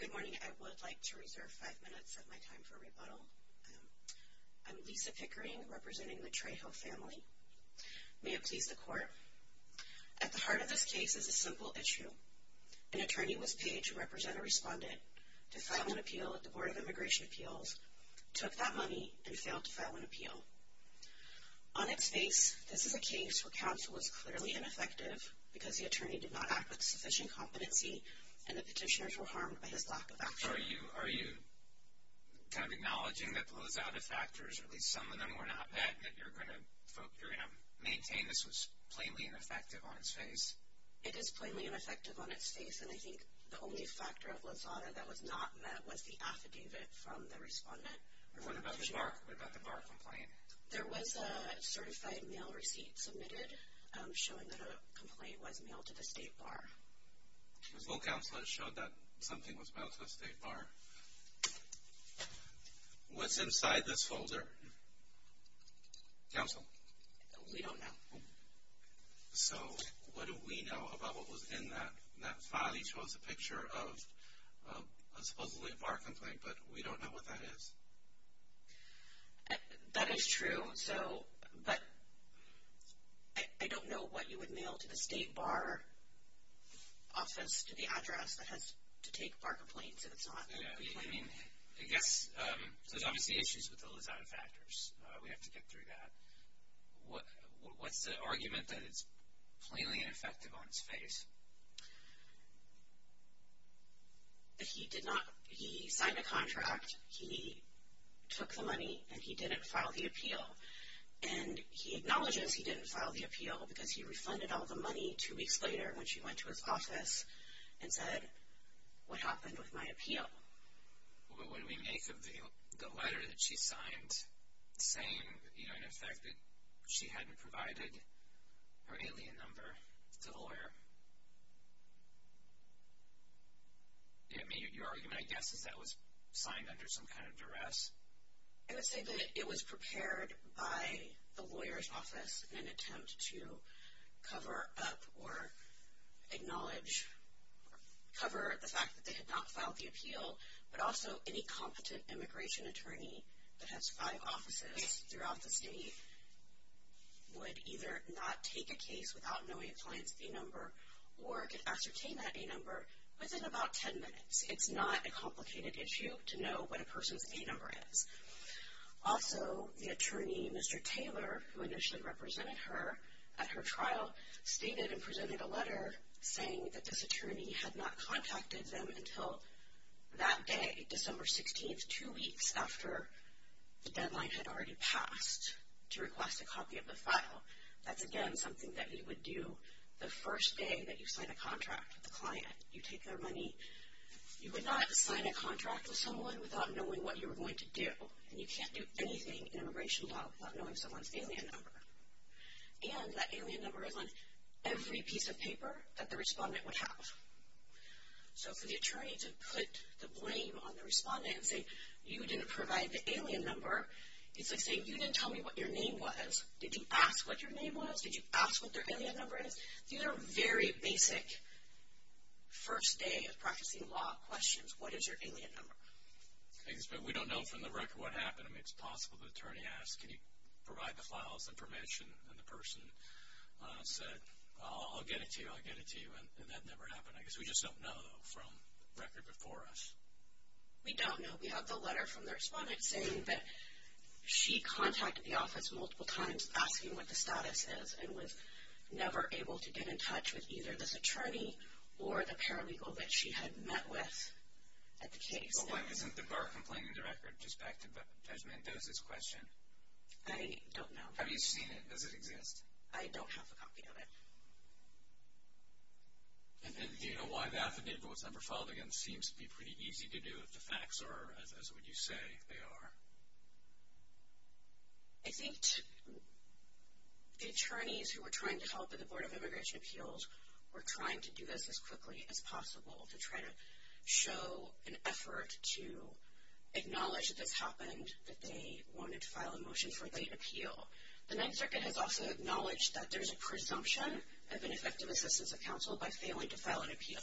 Good morning. I would like to reserve five minutes of my time for rebuttal. I am Lisa Pickering, representing the Trejo family. May it please the Court, at the heart of this case is a simple issue. An attorney was paid to represent a respondent to file an appeal at the Board of Immigration Appeals, took that money, and failed to file an appeal. On its face, this is a case where counsel was clearly ineffective, because the attorney did not act with sufficient competency, and the petitioners were harmed by his lack of action. Are you acknowledging that the Lozada factors, or at least some of them, were not met, and that you're going to maintain this was plainly ineffective on its face? It is plainly ineffective on its face, and I think the only factor of Lozada that was not met was the affidavit from the respondent. What about the bar complaint? There was a certified mail receipt submitted showing that a complaint was mailed to the state bar. So counsel has showed that something was mailed to the state bar. What's inside this folder? Counsel? We don't know. So what do we know about what was in that file? He shows a picture of a supposedly a bar complaint, but we don't know what that is. That is true, but I don't know what you would mail to the state bar office, the address that has to take bar complaints if it's not a complaint. I guess there's obviously issues with the Lozada factors. We have to get through that. What's the argument that it's plainly ineffective on its face? He did not. He signed a contract. He took the money, and he didn't file the appeal. And he acknowledges he didn't file the appeal because he refunded all the money two weeks later when she went to his office and said, what happened with my appeal? What do we make of the letter that she signed saying, you know, in effect that she hadn't provided her alien number to the lawyer? Your argument, I guess, is that was signed under some kind of duress. I would say that it was prepared by the lawyer's office in an attempt to cover up or acknowledge, cover the fact that they had not filed the appeal, but also any competent immigration attorney that has five offices throughout the state would either not take a case without knowing a client's A number or could ascertain that A number within about ten minutes. It's not a complicated issue to know what a person's A number is. Also, the attorney, Mr. Taylor, who initially represented her at her trial, stated and presented a letter saying that this attorney had not contacted them until that day, December 16th, two weeks after the deadline had already passed to request a copy of the file. That's, again, something that you would do the first day that you sign a contract with a client. You take their money. You would not sign a contract with someone without knowing what you were going to do. And you can't do anything in immigration law without knowing someone's alien number. And that alien number is on every piece of paper that the respondent would have. So for the attorney to put the blame on the respondent and say, you didn't provide the alien number, it's like saying, you didn't tell me what your name was. Did you ask what your name was? Did you ask what their alien number is? These are very basic first day of practicing law questions. What is your alien number? We don't know from the record what happened. I mean, it's possible the attorney asked, can you provide the file's information and the person said, I'll get it to you, I'll get it to you, and that never happened. I guess we just don't know from record before us. We don't know. We have the letter from the respondent saying that she contacted the office multiple times asking what the status is and was never able to get in touch with either this attorney or the paralegal that she had met with at the case. But why isn't the bar complaining in the record? Just back to Judge Mendoza's question. I don't know. Have you seen it? Does it exist? I don't have a copy of it. And do you know why the affidavit was never filed again? It seems to be pretty easy to do if the facts are as you say they are. I think the attorneys who were trying to help in the Board of Immigration Appeals were trying to do this as quickly as possible to try to show an effort to acknowledge that this happened, that they wanted to file a motion for late appeal. The Ninth Circuit has also acknowledged that there's a presumption of ineffective assistance of counsel by failing to file an appeal.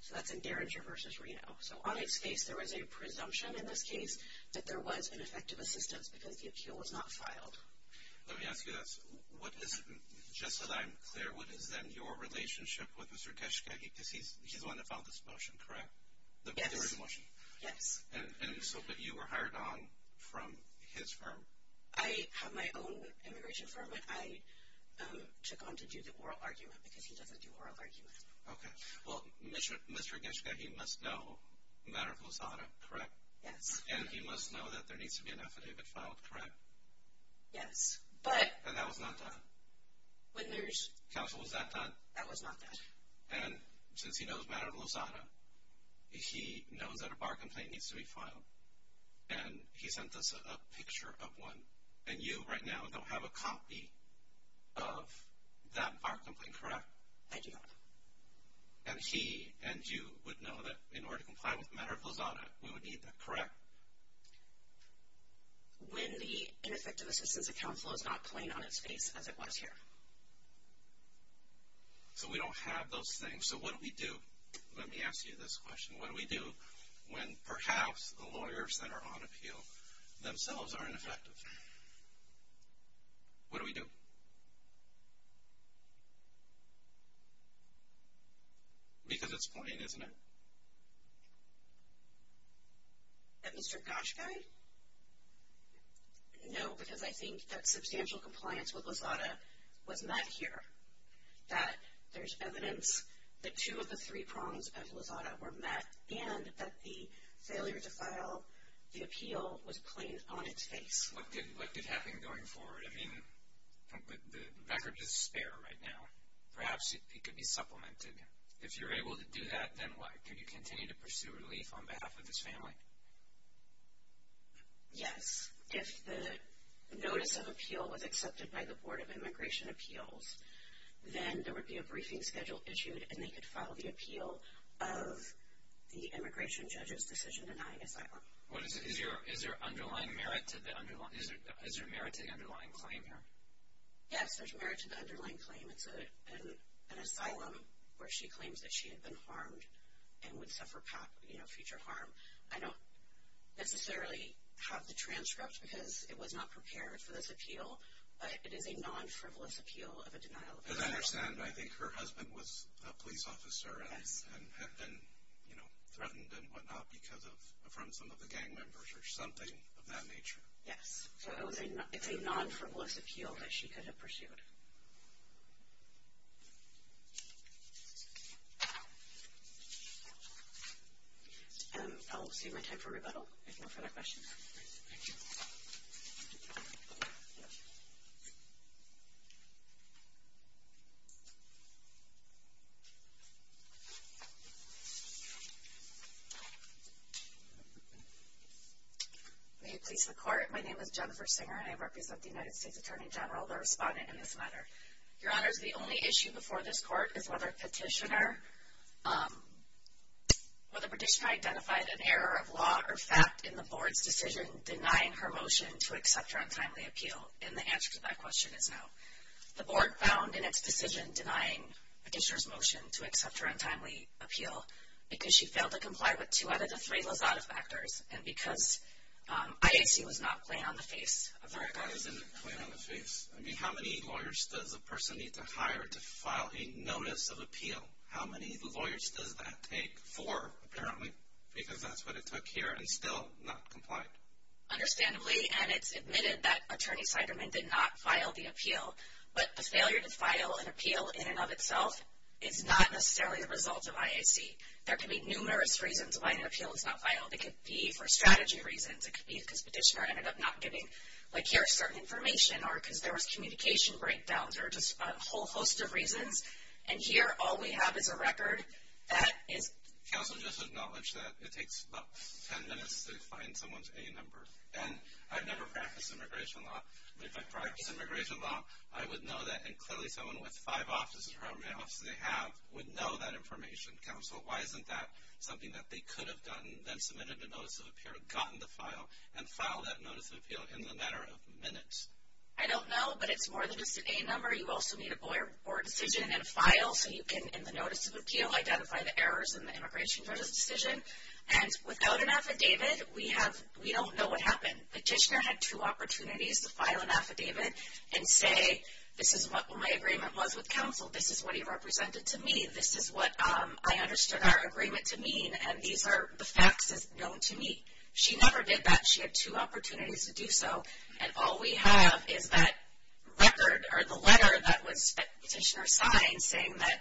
So that's in Derringer v. Reno. So on its face there was a presumption in this case that there was ineffective assistance because the appeal was not filed. Let me ask you this. Just so that I'm clear, what is then your relationship with Mr. Geschkehi? Because he's the one that filed this motion, correct? Yes. And so you were hired on from his firm? I have my own immigration firm, but I took on to do the oral argument because he doesn't do oral arguments. Okay. Well, Mr. Geschkehi must know Maricol Sada, correct? Yes. And he must know that there needs to be an affidavit filed, correct? Yes. And that was not done? Counsel, was that done? That was not done. And since he knows Maricol Sada, he knows that a bar complaint needs to be filed, and he sent us a picture of one. And you right now don't have a copy of that bar complaint, correct? I do not. And he and you would know that in order to comply with Maricol Sada, we would need that, correct? Correct. When the ineffective assistance account flow is not plain on its face as it was here. So we don't have those things. So what do we do? Let me ask you this question. What do we do when perhaps the lawyers that are on appeal themselves are ineffective? What do we do? Because it's plain, isn't it? Mr. Goschkehi? No, because I think that substantial compliance with Lazada was met here, that there's evidence that two of the three prongs of Lazada were met, and that the failure to file the appeal was plain on its face. What did happen going forward? The record is spare right now. Perhaps it could be supplemented. If you're able to do that, then what? Could you continue to pursue relief on behalf of this family? Yes. If the notice of appeal was accepted by the Board of Immigration Appeals, then there would be a briefing schedule issued, and they could file the appeal of the immigration judge's decision denying asylum. Is there underlying merit to the underlying claim here? Yes, there's merit to the underlying claim. It's an asylum where she claims that she had been harmed and would suffer future harm. I don't necessarily have the transcript because it was not prepared for this appeal, but it is a non-frivolous appeal of a denial of asylum. As I understand, I think her husband was a police officer and had been threatened and whatnot from some of the gang members or something of that nature. Yes, so it's a non-frivolous appeal that she could have pursued. Thank you. I'll save my time for rebuttal if no further questions. Thank you. May it please the Court, my name is Jennifer Singer, and I represent the United States Attorney General, the respondent in this matter. Your Honors, the only issue before this Court is whether Petitioner identified an error of law or fact in the Board's decision denying her motion to accept her untimely appeal, and the answer to that question is no. The Board found in its decision denying Petitioner's motion to accept her untimely appeal because she failed to comply with two out of the three Lizada factors and because IAC was not playing on the face of the record. Not playing on the face. I mean, how many lawyers does a person need to hire to file a notice of appeal? How many lawyers does that take for, apparently, because that's what it took here and still not complied? Understandably, and it's admitted that Attorney Siderman did not file the appeal, but the failure to file an appeal in and of itself is not necessarily the result of IAC. There can be numerous reasons why an appeal is not filed. It could be for strategy reasons. It could be because Petitioner ended up not giving, like, here's certain information or because there was communication breakdowns or just a whole host of reasons, and here all we have is a record that is. Counsel, just acknowledge that it takes about ten minutes to find someone's A number, and I've never practiced immigration law, but if I practiced immigration law, I would know that, and clearly someone with five offices or however many offices they have would know that information. Counsel, why isn't that something that they could have done, then submitted a notice of appeal, gotten the file, and filed that notice of appeal in a matter of minutes? I don't know, but it's more than just an A number. You also need a lawyer report decision and a file so you can, in the notice of appeal, identify the errors in the immigration decision, and without an affidavit, we don't know what happened. Petitioner had two opportunities to file an affidavit and say, this is what my agreement was with counsel. This is what he represented to me. This is what I understood our agreement to mean, and these are the facts known to me. She never did that. She had two opportunities to do so, and all we have is that record or the letter that Petitioner signed saying that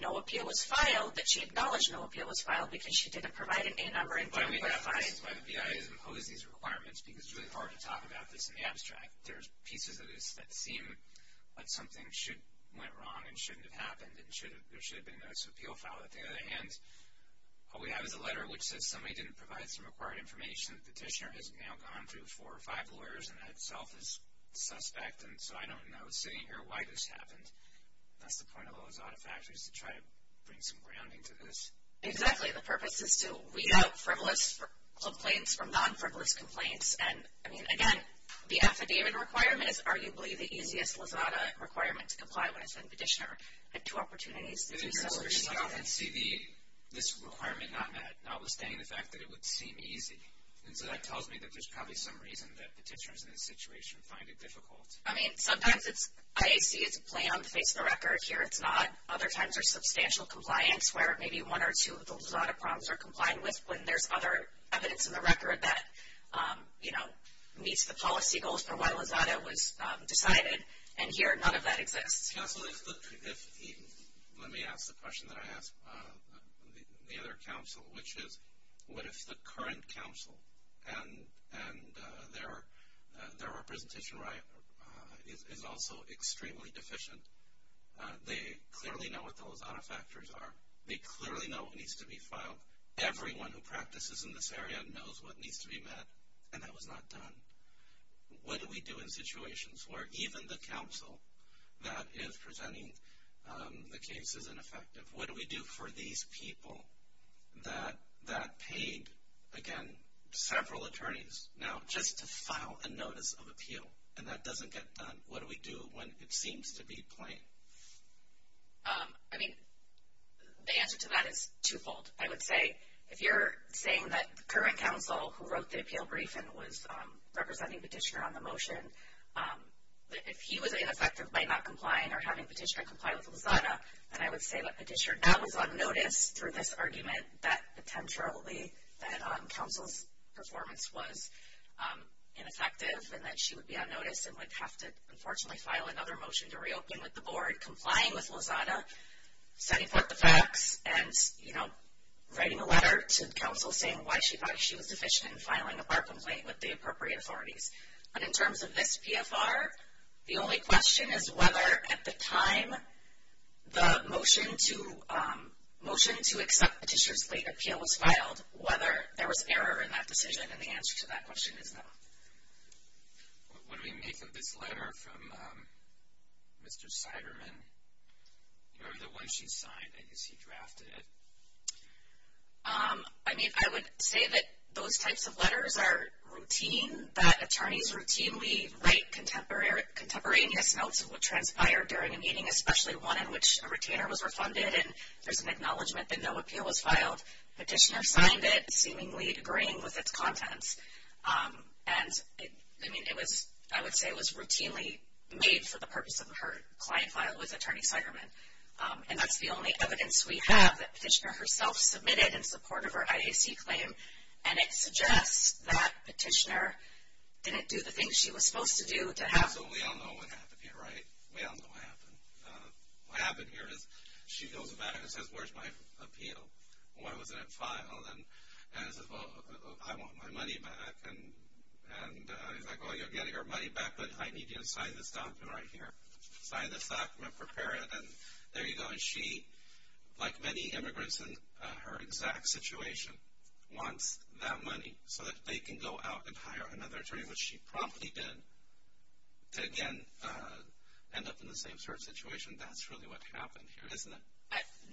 no appeal was filed, that she acknowledged no appeal was filed because she didn't provide an A number. But I mean, that's why the BIA doesn't pose these requirements, because it's really hard to talk about this in the abstract. There's pieces of this that seem like something went wrong and shouldn't have happened and there should have been a notice of appeal filed. On the other hand, all we have is a letter which says somebody didn't provide some required information. Petitioner has now gone through four or five lawyers, and that itself is suspect, and so I don't know, sitting here, why this happened. That's the point of the Lozada factor is to try to bring some grounding to this. Exactly. The purpose is to weed out frivolous complaints from non-frivolous complaints. And, I mean, again, the affidavit requirement is arguably the easiest Lozada requirement to comply with, and Petitioner had two opportunities to do so. I can see this requirement notwithstanding the fact that it would seem easy. And so that tells me that there's probably some reason that petitioners in this situation find it difficult. I mean, sometimes it's IAC, it's a plan, face of the record. Here it's not. Other times there's substantial compliance where maybe one or two of the Lozada problems are complied with when there's other evidence in the record that, you know, meets the policy goals for why Lozada was decided. And here none of that exists. This council is, let me ask the question that I asked the other council, which is, what if the current council and their representation is also extremely deficient? They clearly know what the Lozada factors are. They clearly know what needs to be filed. Everyone who practices in this area knows what needs to be met, and that was not done. What do we do in situations where even the council that is presenting the case is ineffective? What do we do for these people that paid, again, several attorneys now just to file a notice of appeal, and that doesn't get done? What do we do when it seems to be plain? I mean, the answer to that is twofold. I would say if you're saying that the current council who wrote the appeal brief and was representing Petitioner on the motion, if he was ineffective by not complying or having Petitioner comply with Lozada, then I would say that Petitioner now is on notice through this argument that potentially that council's performance was ineffective and that she would be on notice and would have to, unfortunately, file another motion to reopen with the board, complying with Lozada, setting forth the facts, and writing a letter to the council saying why she thought she was deficient in filing a bar complaint with the appropriate authorities. But in terms of this PFR, the only question is whether at the time the motion to accept Petitioner's late appeal was filed, whether there was error in that decision, and the answer to that question is no. What do we make of this letter from Mr. Siderman? Do you remember the one she signed? I guess he drafted it. I mean, I would say that those types of letters are routine, that attorney's routine. We write contemporaneous notes of what transpired during a meeting, especially one in which a retainer was refunded and there's an acknowledgement that no appeal was filed. Petitioner signed it, seemingly agreeing with its contents. And, I mean, it was, I would say it was routinely made for the purpose of her client file with Attorney Siderman. And that's the only evidence we have that Petitioner herself submitted in support of her IAC claim. And it suggests that Petitioner didn't do the things she was supposed to do to have. So we all know what happened here, right? We all know what happened. What happened here is she goes back and says, where's my appeal? Why wasn't it filed? And I said, well, I want my money back. And he's like, well, you're getting your money back, but I need you to sign this document right here. Sign this document, prepare it, and there you go. And she, like many immigrants in her exact situation, wants that money so that they can go out and hire another attorney, which she promptly did, to again end up in the same sort of situation. That's really what happened here, isn't it?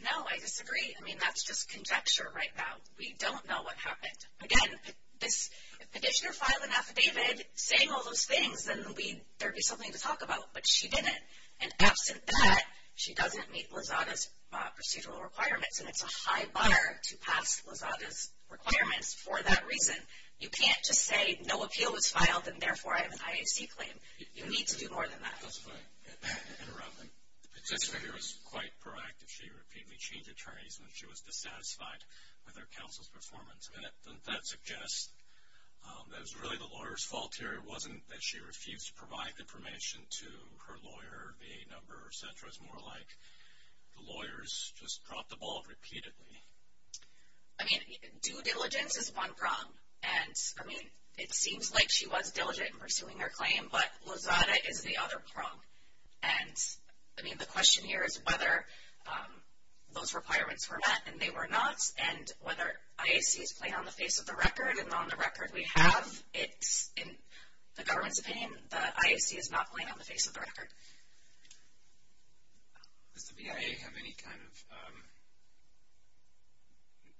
No, I disagree. I mean, that's just conjecture right now. We don't know what happened. Again, if Petitioner filed an affidavit saying all those things, then there would be something to talk about. But she didn't. And absent that, she doesn't meet Lozada's procedural requirements, and it's a high bar to pass Lozada's requirements for that reason. You can't just say no appeal was filed, and therefore I have an IAC claim. You need to do more than that. I just want to interrupt. Petitioner here was quite proactive. She repeatedly changed attorneys when she was dissatisfied with her counsel's performance. Doesn't that suggest that it was really the lawyer's fault here? It wasn't that she refused to provide information to her lawyer, VA number, et cetera? It's more like the lawyers just dropped the ball repeatedly. I mean, due diligence is one problem, and, I mean, it seems like she was diligent in pursuing her claim, but Lozada is the other problem. And, I mean, the question here is whether those requirements were met, and they were not, and whether IAC is playing on the face of the record. And on the record we have, it's in the government's opinion that IAC is not playing on the face of the record. Does the BIA have any kind of,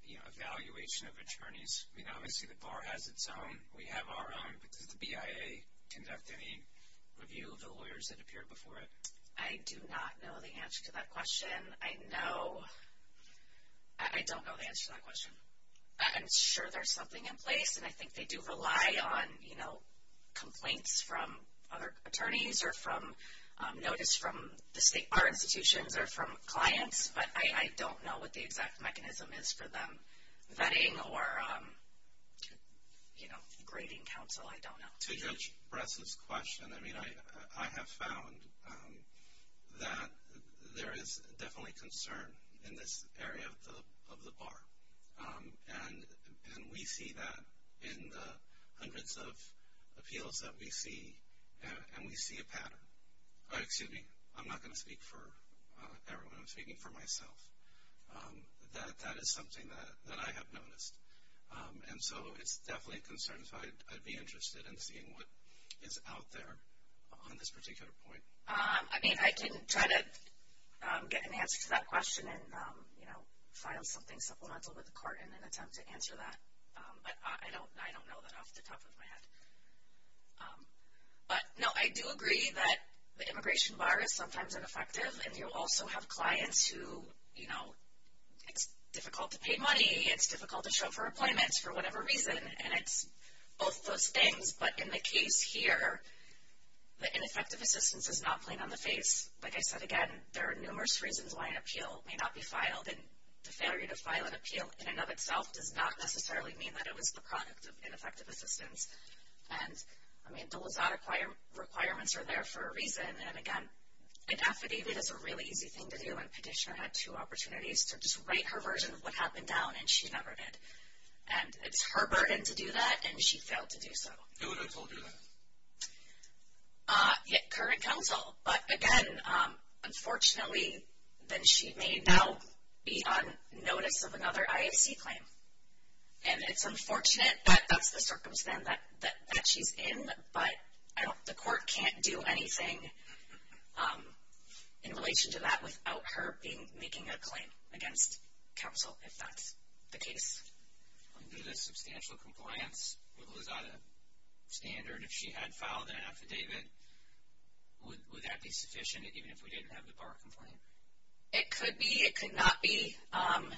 you know, evaluation of attorneys? I mean, obviously the bar has its own. We have our own. But does the BIA conduct any review of the lawyers that appeared before it? I do not know the answer to that question. I know, I don't know the answer to that question. I'm sure there's something in place, and I think they do rely on, you know, complaints from other attorneys or from notice from our institutions or from clients, but I don't know what the exact mechanism is for them vetting or, you know, grading counsel. I don't know. To Judge Bress's question, I mean, I have found that there is definitely concern in this area of the bar, and we see that in the hundreds of appeals that we see, and we see a pattern. Excuse me. I'm not going to speak for everyone. I'm speaking for myself. That is something that I have noticed. And so it's definitely a concern, so I'd be interested in seeing what is out there on this particular point. I mean, I can try to get an answer to that question and, you know, file something supplemental with the court in an attempt to answer that. But I don't know that off the top of my head. But, no, I do agree that the immigration bar is sometimes ineffective, and you also have clients who, you know, it's difficult to pay money, it's difficult to show for appointments for whatever reason, and it's both those things. But in the case here, the ineffective assistance is not plain on the face. Like I said, again, there are numerous reasons why an appeal may not be filed, and the failure to file an appeal in and of itself does not necessarily mean that it was the product of ineffective assistance. And, I mean, the WSAT requirements are there for a reason. And, again, an affidavit is a really easy thing to do, and Petitioner had two opportunities to just write her version of what happened down, and she never did. And it's her burden to do that, and she failed to do so. Who would have told you that? Current counsel. But, again, unfortunately, then she may now be on notice of another IAC claim. And it's unfortunate that that's the circumstance that she's in, but the court can't do anything in relation to that without her making a claim against counsel, if that's the case. Under the substantial compliance with WSATA standard, if she had filed an affidavit, would that be sufficient, even if we didn't have the bar complaint? It could be. It could not be.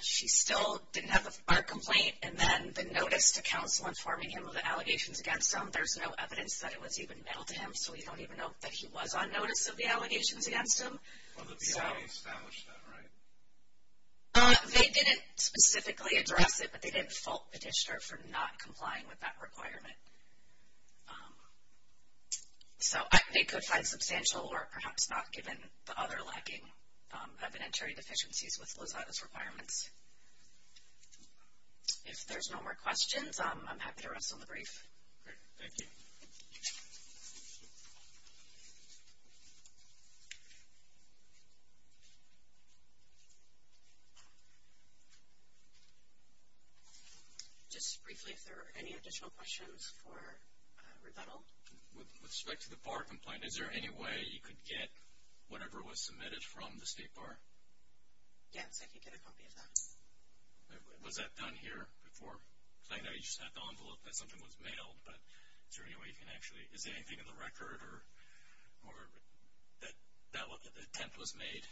She still didn't have a bar complaint. And then the notice to counsel informing him of the allegations against him, there's no evidence that it was even mailed to him, so we don't even know that he was on notice of the allegations against him. Well, the PI established that, right? They didn't specifically address it, but they didn't fault the district for not complying with that requirement. So they could find substantial or perhaps not, given the other lacking evidentiary deficiencies with WSATA's requirements. If there's no more questions, I'm happy to wrestle the brief. Great. Thank you. Just briefly, if there are any additional questions for Riddell. With respect to the bar complaint, is there any way you could get whatever was submitted from the state bar? Yes, I could get a copy of that. Was that done here before? Because I know you just had the envelope that something was mailed, but is there any way you can actually – is there anything in the record or that the attempt was made?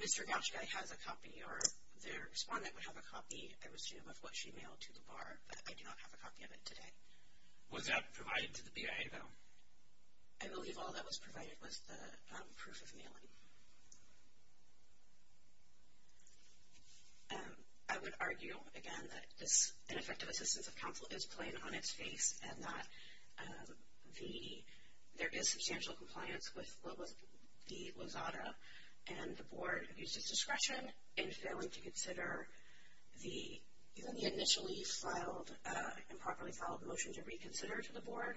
Mr. Gachigai has a copy, or the respondent would have a copy, I assume, of what she mailed to the bar, but I do not have a copy of it today. Was that provided to the PI, though? I believe all that was provided was the proof of mailing. I would argue, again, that this ineffective assistance of counsel is plain on its face and that there is substantial compliance with the WSATA and the board uses discretion in failing to consider the initially filed and improperly filed motion to reconsider to the board,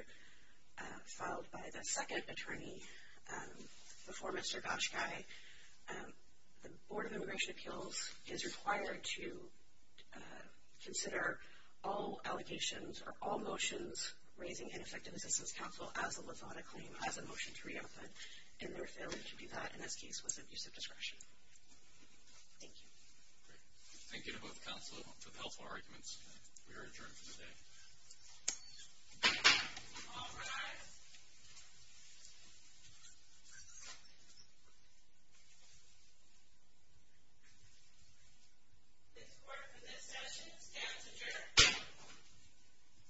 filed by the second attorney before Mr. Gachigai. The Board of Immigration Appeals is required to consider all allegations or all motions raising ineffective assistance of counsel as a WSATA claim, as a motion to reopen, and their failing to do that in this case was an abuse of discretion. Thank you. Thank you to both counsel for the helpful arguments. We are adjourned for today. All rise. This court for this session stands adjourned.